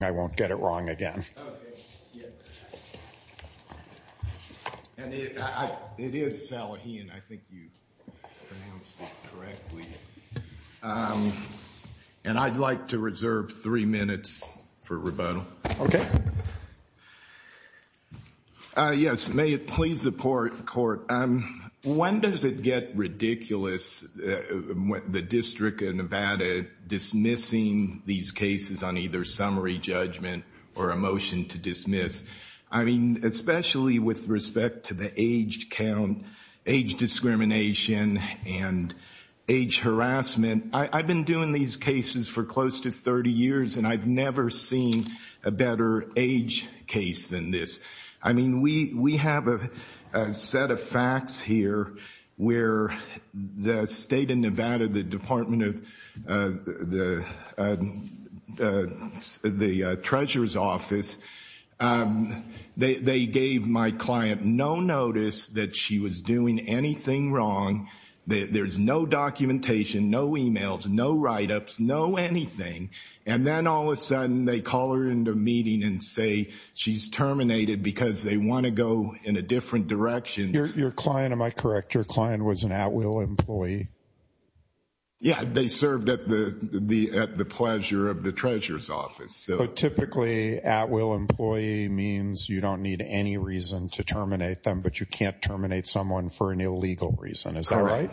I won't get it wrong again. And I'd like to reserve three minutes for rebuttal. Yes, may it please the court, when does it get ridiculous, the District of Nevada dismissing these cases on either summary judgment or a motion to dismiss? I mean, especially with respect to the age count, age discrimination, and age harassment, I've been doing these cases for close to 30 years and I've never seen a better age case than this. I mean, we have a set of facts here where the State of Nevada, the Department of the Treasurer's Office, they gave my client no notice that she was doing anything wrong. There's no documentation, no emails, no write-ups, no anything. And then all of a sudden, they call her into a meeting and say she's terminated because they want to go in a different direction. Your client, am I correct, your client was an at-will employee? Yeah, they served at the pleasure of the Treasurer's Office. But typically, at-will employee means you don't need any reason to terminate them, but you can't terminate someone for an illegal reason, is that right?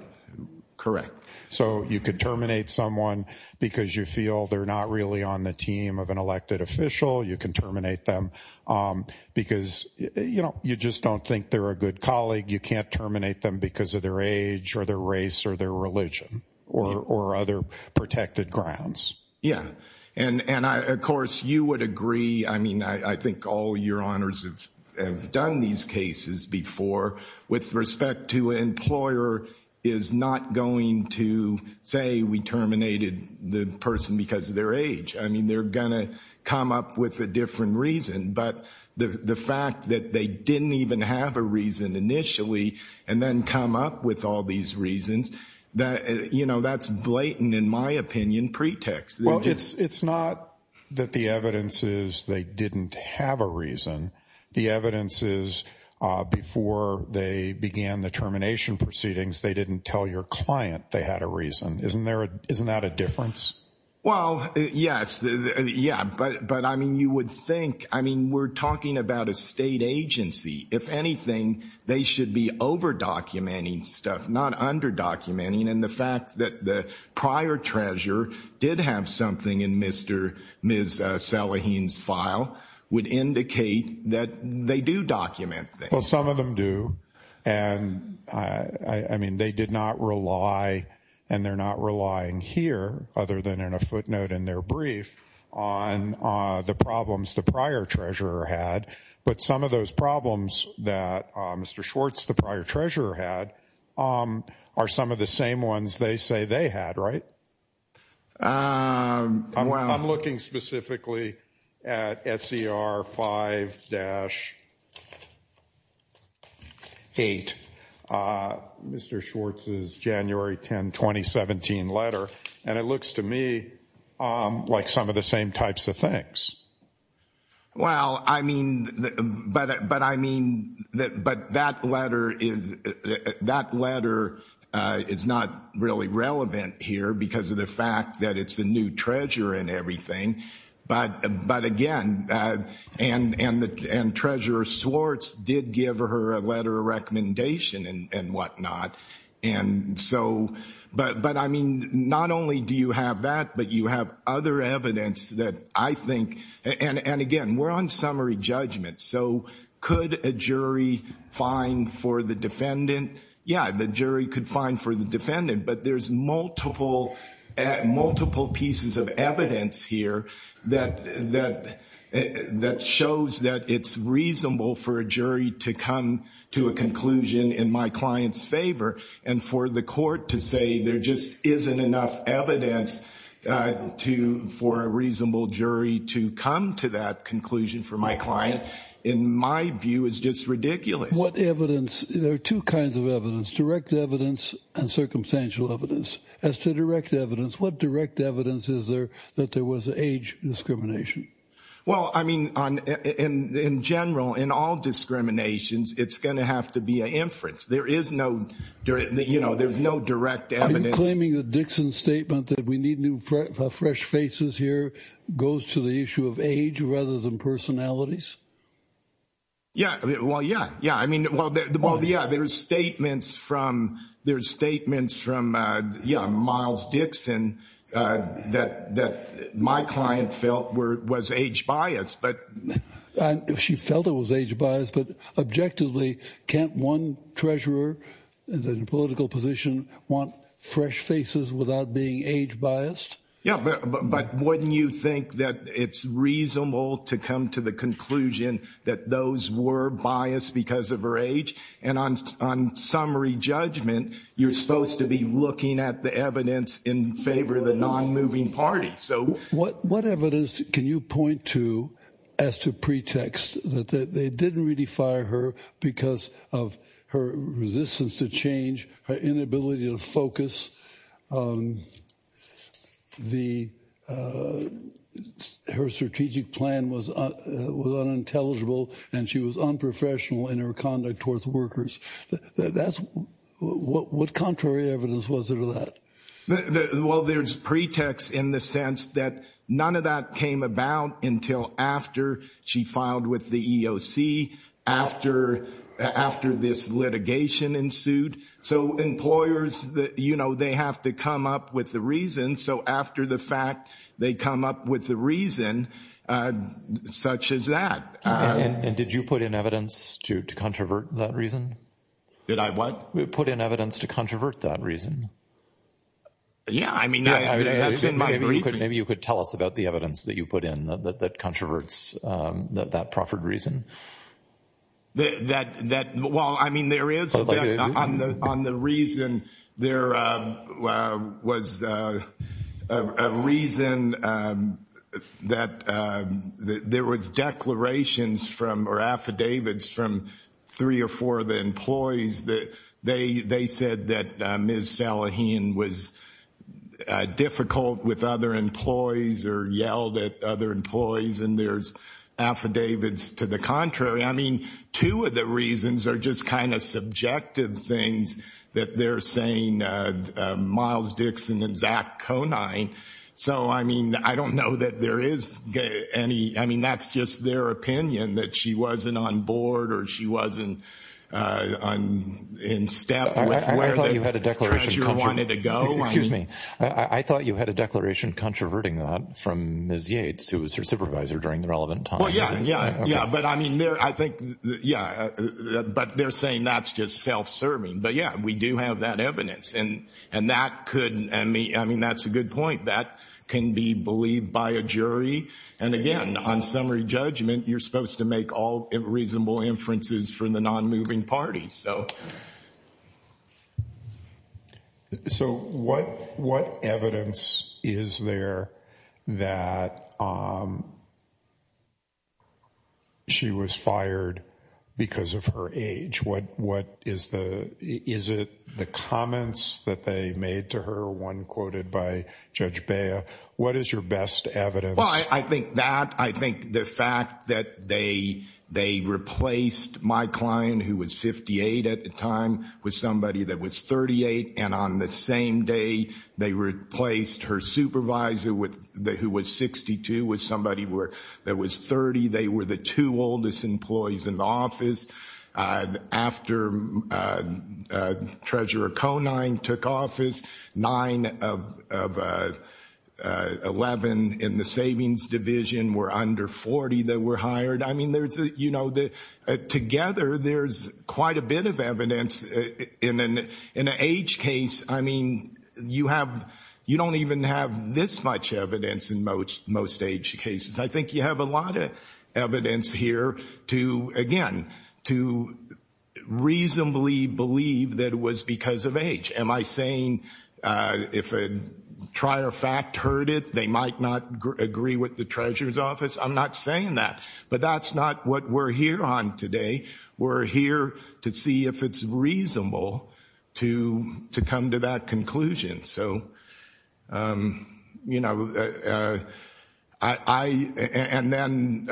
Correct. So you could terminate someone because you feel they're not really on the team of an elected official, you can terminate them because you just don't think they're a good colleague, you can't terminate them because of their age, or their race, or their religion, or other protected grounds. Yeah. And of course, you would agree, I mean, I think all your honors have done these cases before with respect to an employer is not going to say we terminated the person because of their age. I mean, they're going to come up with a different reason, but the fact that they didn't even have a reason initially and then come up with all these reasons, that's blatant, in my opinion, pretext. Well, it's not that the evidence is they didn't have a reason. The evidence is before they began the termination proceedings, they didn't tell your client they had a reason. Isn't that a difference? Well, yes. Yeah, but I mean, you would think, I mean, we're talking about a state agency. If anything, they should be over-documenting stuff, not under-documenting, and the fact that the prior treasurer did have something in Ms. Salaheen's file would indicate that they do document things. Well, some of them do, and I mean, they did not rely, and they're not relying here, other than in a footnote in their brief, on the problems the prior treasurer had, but some of those problems that Mr. Schwartz, the prior treasurer, had are some of the same ones they say they had, right? I'm looking specifically at SCR 5-8, Mr. Schwartz's January 10, 2017 letter, and it looks to me like some of the same types of things. Well, I mean, but that letter is not really relevant here because of the fact that it's a new treasurer and everything, but again, and Treasurer Schwartz did give her a letter of recommendation and whatnot, and so, but I mean, not only do you have that, but you have other evidence that I think, and again, we're on summary judgment, so could a jury find for the defendant, yeah, the jury could find for the defendant, but there's multiple pieces of evidence here that shows that it's reasonable for a jury to come to a conclusion in my client's favor, and for the court to say there just isn't enough evidence for a reasonable jury to come to that conclusion for my client, in my view, is just ridiculous. What evidence, there are two kinds of evidence, direct evidence and circumstantial evidence. As to direct evidence, what direct evidence is there that there was age discrimination? Well, I mean, in general, in all discriminations, it's going to have to be an inference. There is no, you know, there's no direct evidence. Are you claiming that Dixon's statement that we need new fresh faces here goes to the issue of age rather than personalities? Yeah, well, yeah, yeah, I mean, well, yeah, there's statements from, there's statements from, yeah, Miles Dixon that my client felt was age biased, but... She felt it was age biased, but objectively, can't one treasurer in a political position want fresh faces without being age biased? Yeah, but wouldn't you think that it's reasonable to come to the conclusion that those were biased because of her age? And on summary judgment, you're supposed to be looking at the evidence in favor of the non-moving party, so... What evidence can you point to as to pretext that they didn't really fire her because of her resistance to change, her inability to focus, her strategic plan was unintelligible, and she was unprofessional in her conduct towards workers? What contrary evidence was there to that? Well, there's pretext in the sense that none of that came about until after she filed with the EOC, after this litigation ensued. So employers, you know, they have to come up with the reason. So after the fact, they come up with the reason, such as that. And did you put in evidence to controvert that reason? Did I what? You put in evidence to controvert that reason. Yeah, I mean, that's in my brief. Maybe you could tell us about the evidence that you put in that controverts that proffered reason. That, well, I mean, there is on the reason there was a reason that there was declarations from or affidavits from three or four of the employees that they said that Ms. Salaheen was difficult with other employees or yelled at other employees, and there's affidavits to the contrary. I mean, two of the reasons are just kind of subjective things that they're saying, Miles Dixon and Zach Conine. So I mean, I don't know that there is any, I mean, that's just their opinion that she wasn't on board or she wasn't in step with where the treasurer wanted to go. Excuse me. I thought you had a declaration controverting that from Ms. Yates, who was her supervisor during the relevant time. Well, yeah, yeah, yeah. But I mean, I think, yeah, but they're saying that's just self-serving. But yeah, we do have that evidence, and that could, I mean, that's a good point. That can be believed by a jury, and again, on summary judgment, you're supposed to make all reasonable inferences from the non-moving party, so. So what evidence is there that she was fired because of her age? What is the, is it the comments that they made to her, one quoted by Judge Bea? What is your best evidence? Well, I think that, I think the fact that they replaced my client, who was 58 at the time, with somebody that was 38, and on the same day, they replaced her supervisor, who was 62, with somebody that was 30. They were the two oldest employees in the office. After Treasurer Conine took office, nine of 11 in the savings division were under 40 that were hired. I mean, there's, you know, together, there's quite a bit of evidence. In an age case, I mean, you have, you don't even have this much evidence in most age cases. I think you have a lot of evidence here to, again, to reasonably believe that it was because of age. Am I saying if a trier fact heard it, they might not agree with the treasurer's office? I'm not saying that. But that's not what we're here on today. We're here to see if it's reasonable to come to that conclusion. So, you know, I, and then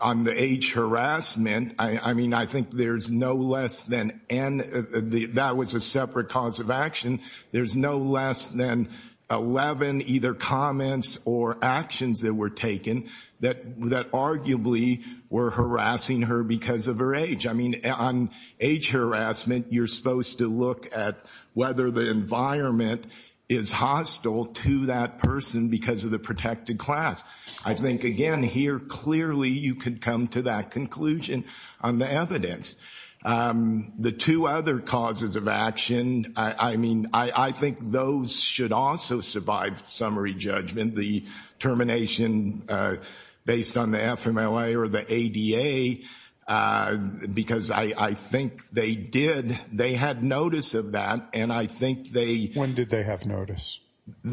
on the age harassment, I mean, I think there's no less than, that was a separate cause of action. There's no less than 11 either comments or actions that were taken that arguably were harassing her because of her age. I mean, on age harassment, you're supposed to look at whether the environment is hostile to that person because of the protected class. I think, again, here, clearly, you could come to that conclusion on the evidence. The two other causes of action, I mean, I think those should also survive summary judgment. The termination based on the FMLA or the ADA, because I think they did, they had notice of that. And I think they... When did they have notice?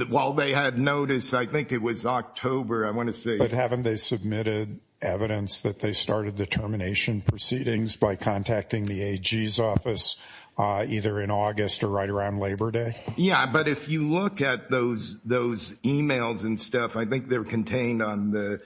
While they had notice, I think it was October. I want to say... But haven't they submitted evidence that they started the termination proceedings by contacting the AG's office either in August or right around Labor Day? Yeah. But if you look at those emails and stuff, I think they're contained on the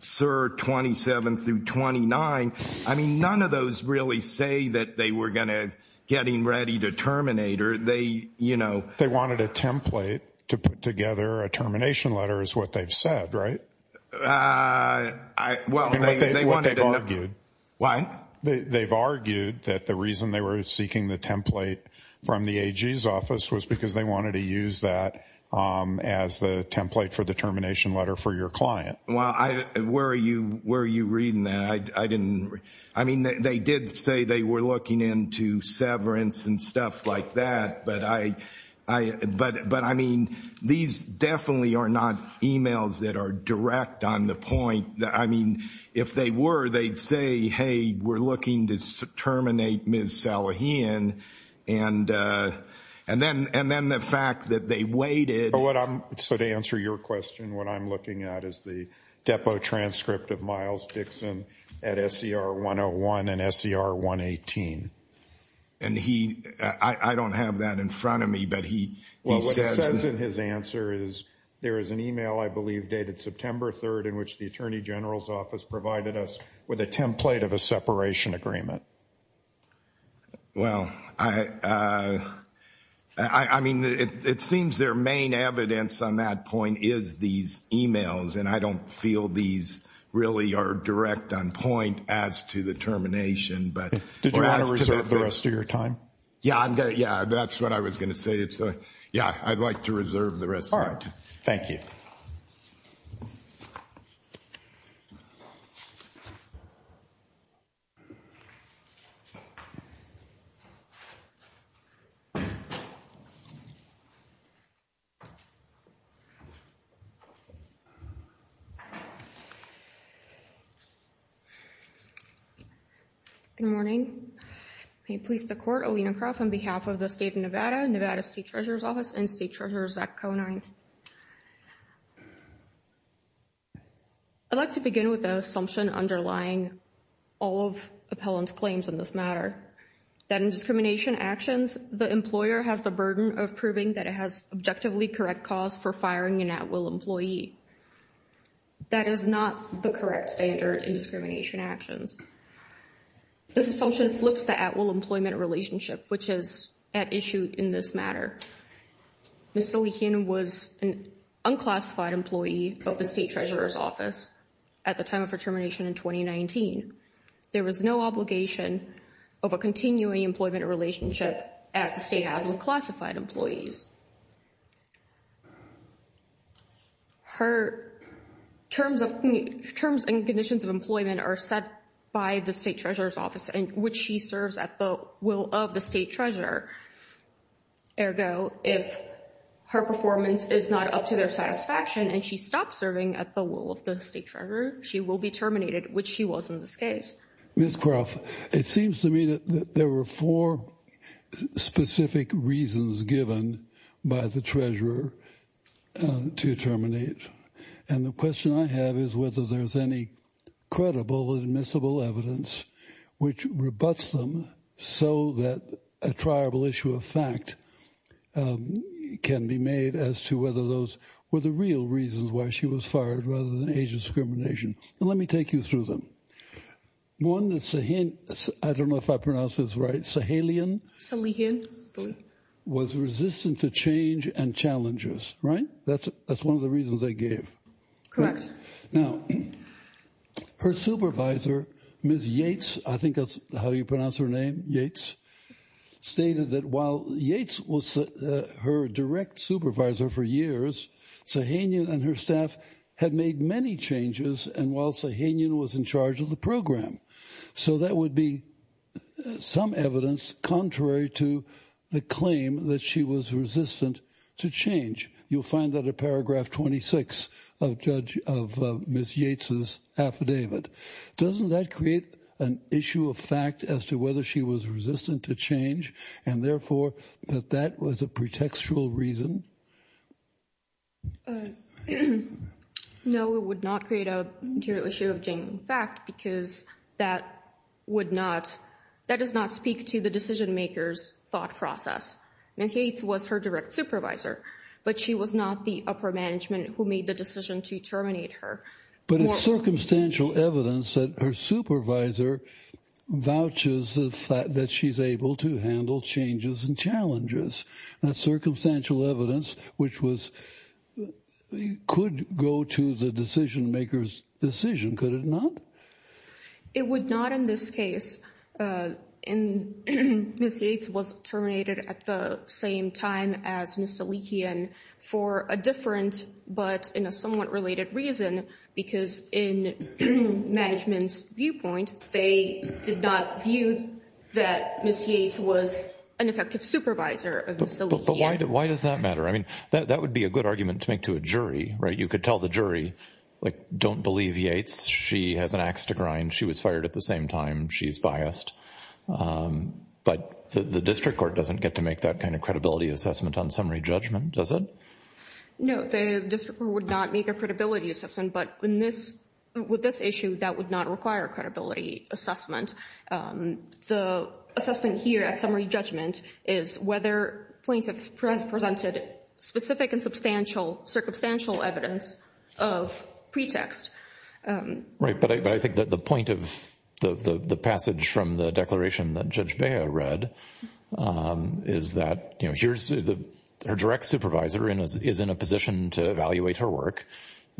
SIR 27 through 29. I mean, none of those really say that they were going to getting ready to terminate or they, you know... They wanted a template to put together a termination letter is what they've said, right? I... Well, they... What they've argued... Why? They've argued that the reason they were seeking the template from the AG's office was because they wanted to use that as the template for the termination letter for your client. Well, I... Where are you reading that? I didn't... I mean, they did say they were looking into severance and stuff like that, but I mean, these definitely are not emails that are direct on the point. I mean, if they were, they'd say, hey, we're looking to terminate Ms. Salahian and then the fact that they waited... So, to answer your question, what I'm looking at is the depot transcript of Miles Dixon at SER 101 and SER 118. And he... I don't have that in front of me, but he says... Well, what it says in his answer is there is an email, I believe, dated September 3rd in which the Attorney General's office provided us with a template of a separation agreement. Well, I mean, it seems their main evidence on that point is these emails, and I don't feel these really are direct on point as to the termination, but as to the fact... Did you want to reserve the rest of your time? Yeah, I'm going to... Yeah, that's what I was going to say. It's... Yeah, I'd like to reserve the rest of my time. All right. Thank you. Good morning. Good morning. May it please the Court, Alina Croft on behalf of the State of Nevada, Nevada State Treasurer's Office, and State Treasurer Zach Conine. I'd like to begin with the assumption underlying all of Appellant's claims in this matter, that in discrimination actions, the employer has the burden of proving that it has objectively correct cause for firing an at-will employee. That is not the correct standard in discrimination actions. This assumption flips the at-will employment relationship, which is at issue in this matter. Ms. Sully-Hinn was an unclassified employee of the State Treasurer's Office at the time of her termination in 2019. There was no obligation of a continuing employment relationship as the state has with classified employees. Her terms and conditions of employment are set by the State Treasurer's Office, which she serves at the will of the State Treasurer. Ergo, if her performance is not up to their satisfaction and she stops serving at the will of the State Treasurer, she will be terminated, which she was in this case. Ms. Croft, it seems to me that there were four specific reasons given by the Treasurer to terminate. And the question I have is whether there's any credible admissible evidence which rebutts them so that a triable issue of fact can be made as to whether those were the real reasons why she was fired rather than age discrimination. Let me take you through them. One is Sully-Hinn, I don't know if I pronounced this right, Sully-Hinn, was resistant to change and challenges. Right? That's one of the reasons they gave. Now, her supervisor, Ms. Yates, I think that's how you pronounce her name, Yates, stated that while Yates was her direct supervisor for years, Sully-Hinn and her staff had made many changes and while Sully-Hinn was in charge of the program. So that would be some evidence contrary to the claim that she was resistant to change. You'll find that in paragraph 26 of Ms. Yates' affidavit. Doesn't that create an issue of fact as to whether she was resistant to change and therefore that that was a pretextual reason? No, it would not create an issue of genuine fact because that would not, that does not speak to the decision maker's thought process. Ms. Yates was her direct supervisor, but she was not the upper management who made the decision to terminate her. But it's circumstantial evidence that her supervisor vouches that she's able to handle changes and challenges. That's circumstantial evidence which was, could go to the decision maker's decision, could it not? It would not in this case and Ms. Yates was terminated at the same time as Ms. Sully-Hinn for a different but in a somewhat related reason because in management's viewpoint, they did not view that Ms. Yates was an effective supervisor of Ms. Sully-Hinn. Why does that matter? I mean, that would be a good argument to make to a jury, right? You could tell the jury, like, don't believe Yates, she has an ax to grind, she was fired at the same time, she's biased. But the district court doesn't get to make that kind of credibility assessment on summary judgment, does it? No, the district court would not make a credibility assessment, but in this, with this issue, that would not require a credibility assessment. The assessment here at summary judgment is whether plaintiff has presented specific and substantial circumstantial evidence of pretext. Right, but I think that the point of the passage from the declaration that Judge Bea read is that, you know, here's the, her direct supervisor is in a position to evaluate her work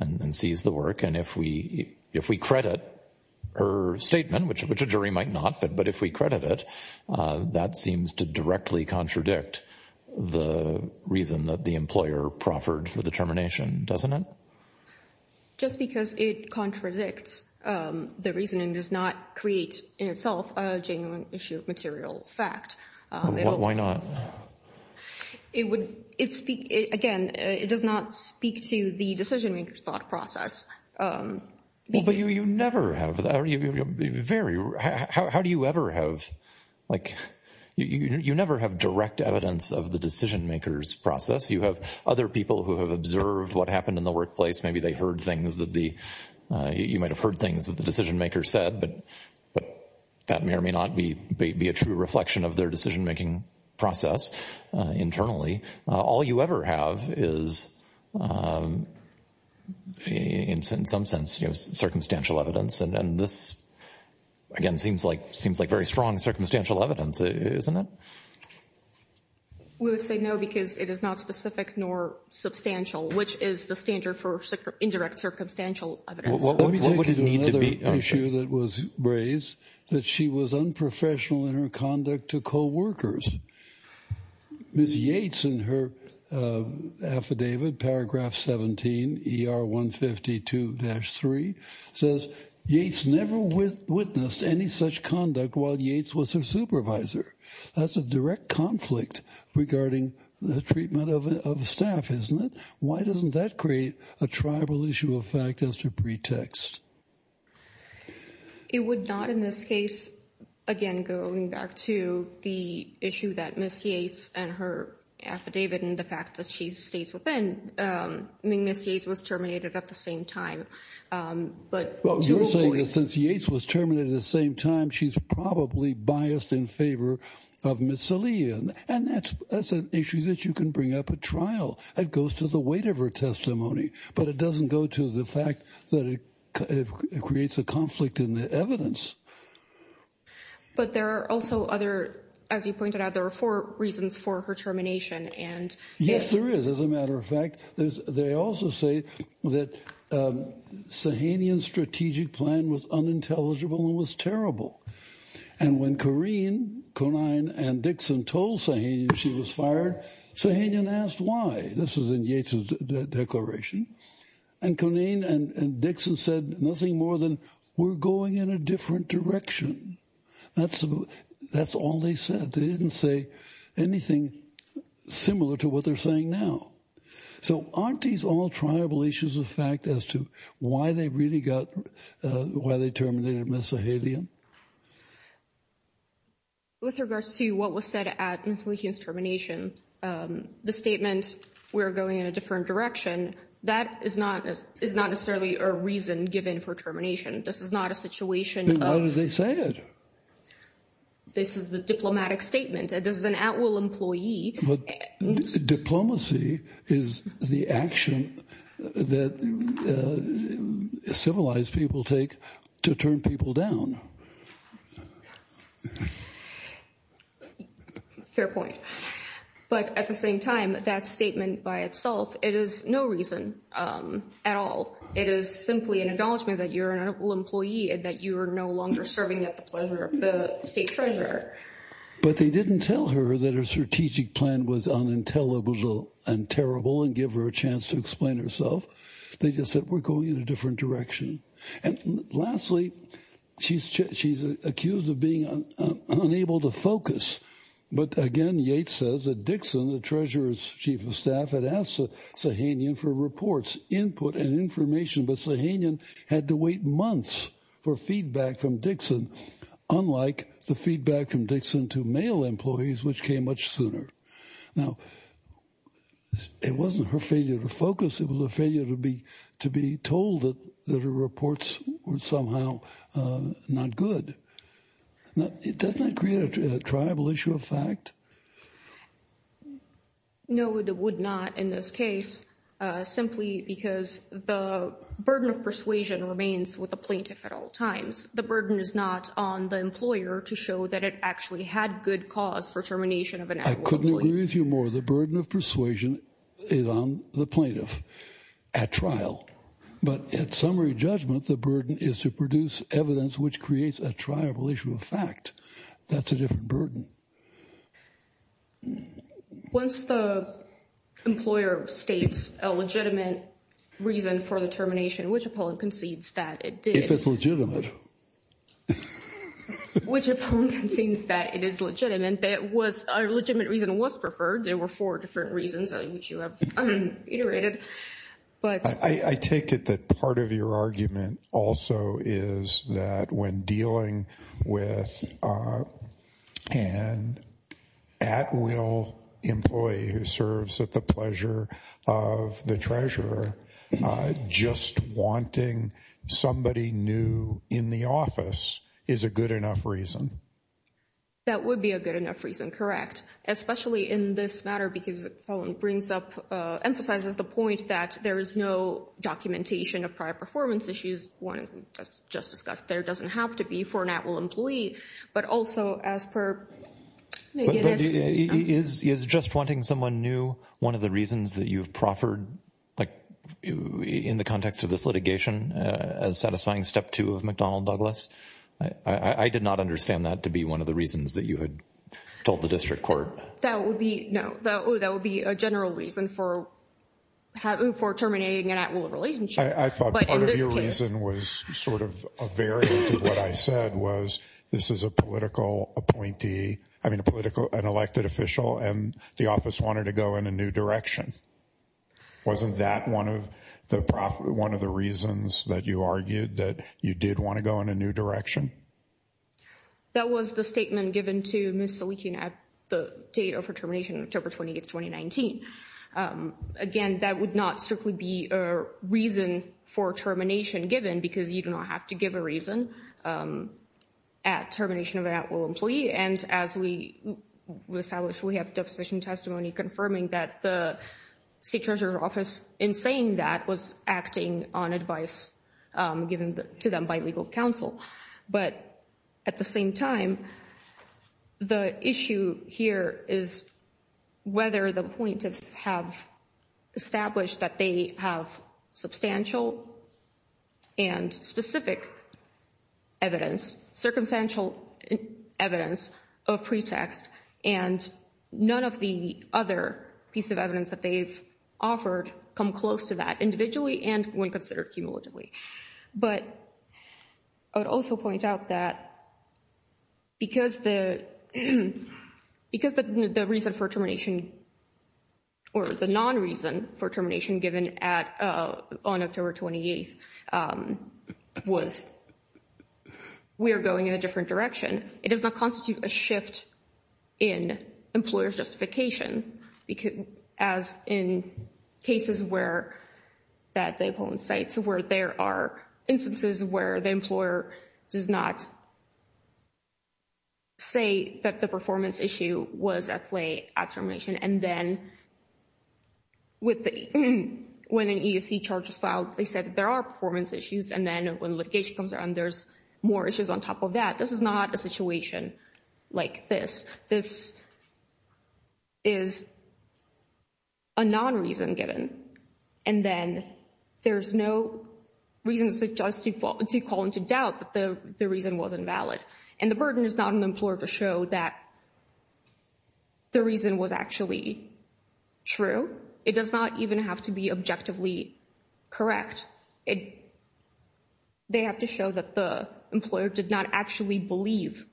and sees the work, and if we, if we credit her statement, which a jury might not, but if we credit it, that seems to directly contradict the reason that the employer proffered for the termination, doesn't it? Just because it contradicts the reasoning does not create in itself a genuine issue of material fact. Why not? It would, it, again, it does not speak to the decision-maker's thought process. Well, but you never have, how do you ever have, like, you never have direct evidence of the decision-maker's process. You have other people who have observed what happened in the workplace, maybe they heard things that the, you might have heard things that the decision-maker said, but that may or may not be a true reflection of their decision-making process internally. All you ever have is, in some sense, circumstantial evidence, and this, again, seems like very strong circumstantial evidence, isn't it? We would say no because it is not specific nor substantial, which is the standard for indirect circumstantial evidence. Let me take you to another issue that was raised, that she was unprofessional in her conduct to co-workers. Ms. Yates in her affidavit, paragraph 17, ER 152-3, says, Yates never witnessed any such conduct while Yates was her supervisor. That's a direct conflict regarding the treatment of staff, isn't it? Why doesn't that create a tribal issue of fact as a pretext? It would not in this case, again, going back to the issue that Ms. Yates and her affidavit and the fact that she stays within, I mean, Ms. Yates was terminated at the same time, but to a point— Well, you're saying that since Yates was terminated at the same time, she's probably biased in favor of Ms. Salih, and that's an issue that you can bring up at trial. It goes to the weight of her testimony, but it doesn't go to the fact that it creates a conflict in the evidence. But there are also other, as you pointed out, there are four reasons for her termination, and if— Yes, there is. As a matter of fact, they also say that Sahanian's strategic plan was unintelligible and was unintelligible, and when Corrine, Conine, and Dixon told Sahanian she was fired, Sahanian asked why. This is in Yates's declaration. And Corrine and Dixon said nothing more than, we're going in a different direction. That's all they said. They didn't say anything similar to what they're saying now. So aren't these all tribal issues of fact as to why they really got—why they terminated Ms. Sahanian? Well, with regards to what was said at Ms. Salihian's termination, the statement, we're going in a different direction, that is not necessarily a reason given for termination. This is not a situation of— Then why did they say it? This is the diplomatic statement. It is an at-will employee— Diplomacy is the action that civilized people take to turn people down. Fair point. But at the same time, that statement by itself, it is no reason at all. It is simply an acknowledgment that you're an at-will employee and that you are no longer serving at the pleasure of the state treasurer. But they didn't tell her that her strategic plan was unintelligible and terrible and give her a chance to explain herself. They just said, we're going in a different direction. And lastly, she's accused of being unable to focus. But again, Yates says that Dixon, the treasurer's chief of staff, had asked Sahanian for reports, input, and information. But Sahanian had to wait months for feedback from Dixon, unlike the feedback from Dixon to male employees, which came much sooner. Now, it wasn't her failure to focus. It was a failure to be told that her reports were somehow not good. Now, does that create a triable issue of fact? No, it would not in this case, simply because the burden of persuasion remains with the plaintiff at all times. The burden is not on the employer to show that it actually had good cause for termination of an at-will employee. I couldn't agree with you more. The burden of persuasion is on the plaintiff at trial. But at summary judgment, the burden is to produce evidence which creates a triable issue of fact. That's a different burden. Once the employer states a legitimate reason for the termination, which opponent concedes that it did? If it's legitimate. Which opponent concedes that it is legitimate, that a legitimate reason was preferred, there were four different reasons which you have iterated. But I take it that part of your argument also is that when dealing with an at-will employee who serves at the pleasure of the treasurer, just wanting somebody new in the office is a good enough reason. That would be a good enough reason, correct? Especially in this matter, because it brings up, emphasizes the point that there is no documentation of prior performance issues. One, just discussed, there doesn't have to be for an at-will employee. But also as per. Is just wanting someone new one of the reasons that you've proffered, like in the context of this litigation, as satisfying step two of McDonnell Douglas? I did not understand that to be one of the reasons that you had told the district court. That would be, no, that would be a general reason for terminating an at-will relationship. I thought part of your reason was sort of a variant of what I said was this is a political appointee, I mean a political, an elected official and the office wanted to go in a new direction. Wasn't that one of the reasons that you argued that you did want to go in a new direction? That was the statement given to Ms. Salikian at the date of her termination, October 28, 2019. Again, that would not strictly be a reason for termination given, because you do not have to give a reason at termination of an at-will employee. As we established, we have deposition testimony confirming that the state treasurer's office in saying that was acting on advice given to them by legal counsel. But at the same time, the issue here is whether the appointees have established that they have substantial and specific evidence, circumstantial evidence of pretext and none of the other piece of evidence that they've offered come close to that individually and when considered cumulatively. But I would also point out that because the reason for termination or the non-reason for termination given on October 28 was we are going in a different direction, it does not constitute a shift in employer's justification, as in cases where that they pull in sites where there are instances where the employer does not say that the performance issue was at play at termination. And then when an ESC charge is filed, they said there are performance issues. And then when litigation comes around, there's more issues on top of that. This is not a situation like this. This is a non-reason given. And then there's no reason to call into doubt that the reason wasn't valid. And the burden is not an employer to show that the reason was actually true. It does not even have to be objectively correct. They have to show that the employer did not actually believe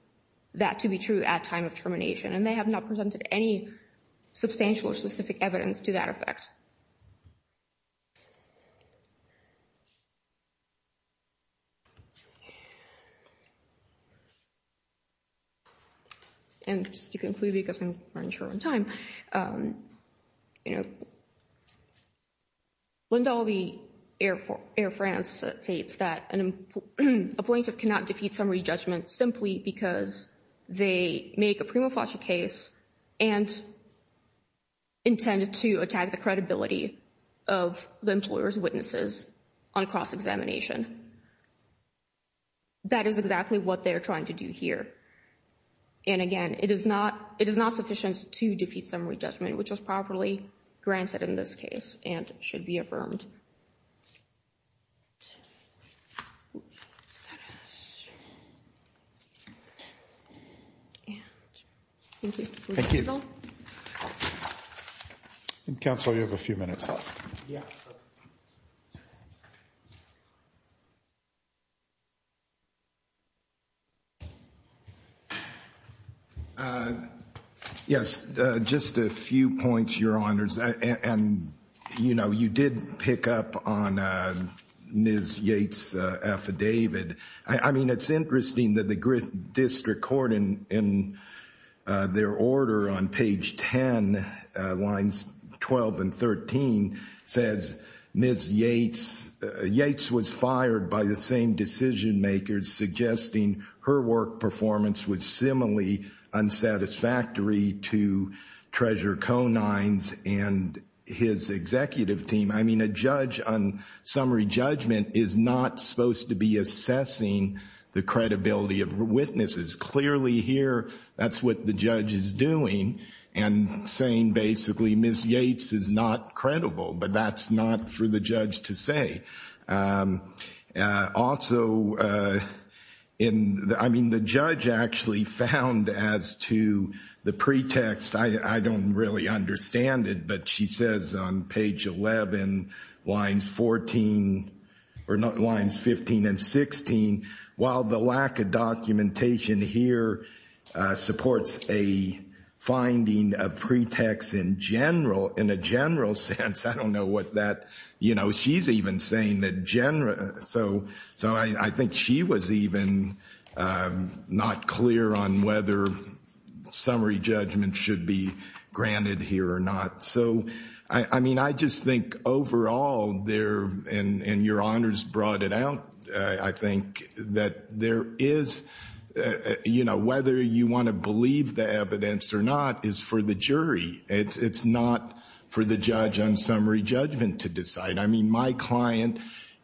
that to be true at time of termination, and they have not presented any substantial or specific evidence to that effect. And just to conclude, because I'm running short on time, you know, Lindahl v. Air France states that a plaintiff cannot defeat summary judgment simply because they make a prima facie case and intend to attack the credibility of the employer's witnesses on cross-examination. That is exactly what they're trying to do here. And again, it is not sufficient to defeat summary judgment, which was properly granted in this case and should be affirmed. Thank you. Thank you. Counselor, you have a few minutes left. Yeah. Yes, just a few points, Your Honors. And, you know, you did pick up on Ms. Yates' affidavit. I mean, it's interesting that the district court, in their order on page 10, lines 12 and 13, says Ms. Yates was fired by the same decision makers, suggesting her work performance was similarly unsatisfactory to Treasurer Conine's and his executive team. I mean, a judge on summary judgment is not supposed to be assessing the credibility of witnesses. Clearly here, that's what the judge is doing and saying basically Ms. Yates is not credible, but that's not for the judge to say. Also, I mean, the judge actually found as to the pretext, I don't really understand it, but she says on page 11, lines 14, or lines 15 and 16, while the lack of documentation here supports a finding of pretext in general, in a general sense, I don't know what that, you know, she's even saying that general, so I think she was even not clear on whether summary judgment should be granted here or not. So, I mean, I just think overall there, and your honors brought it out, I think that there is, you know, whether you want to believe the evidence or not is for the jury. It's not for the judge on summary judgment to decide. I mean, my client,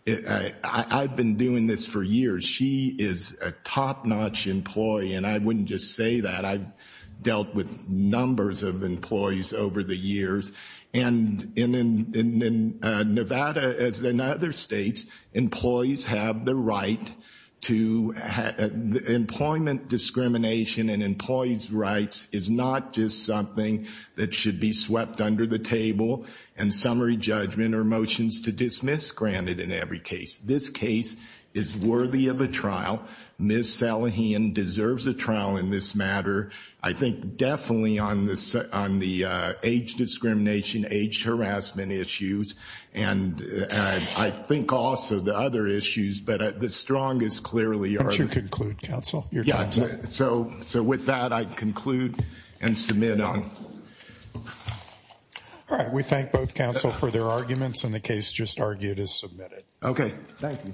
I've been doing this for years. She is a top-notch employee, and I wouldn't just say that. I've dealt with numbers of employees over the years, and in Nevada, as in other states, employees have the right to, employment discrimination and employee's rights is not just something that should be swept under the table, and summary judgment or motions to dismiss granted in every case. This case is worthy of a trial. Ms. Salihian deserves a trial in this matter. I think definitely on the age discrimination, age harassment issues, and I think also the other issues, but the strongest clearly are... Why don't you conclude, counsel? Yeah, so with that, I conclude and submit on... All right, we thank both counsel for their arguments, and the case just argued is submitted. Okay. Thank you.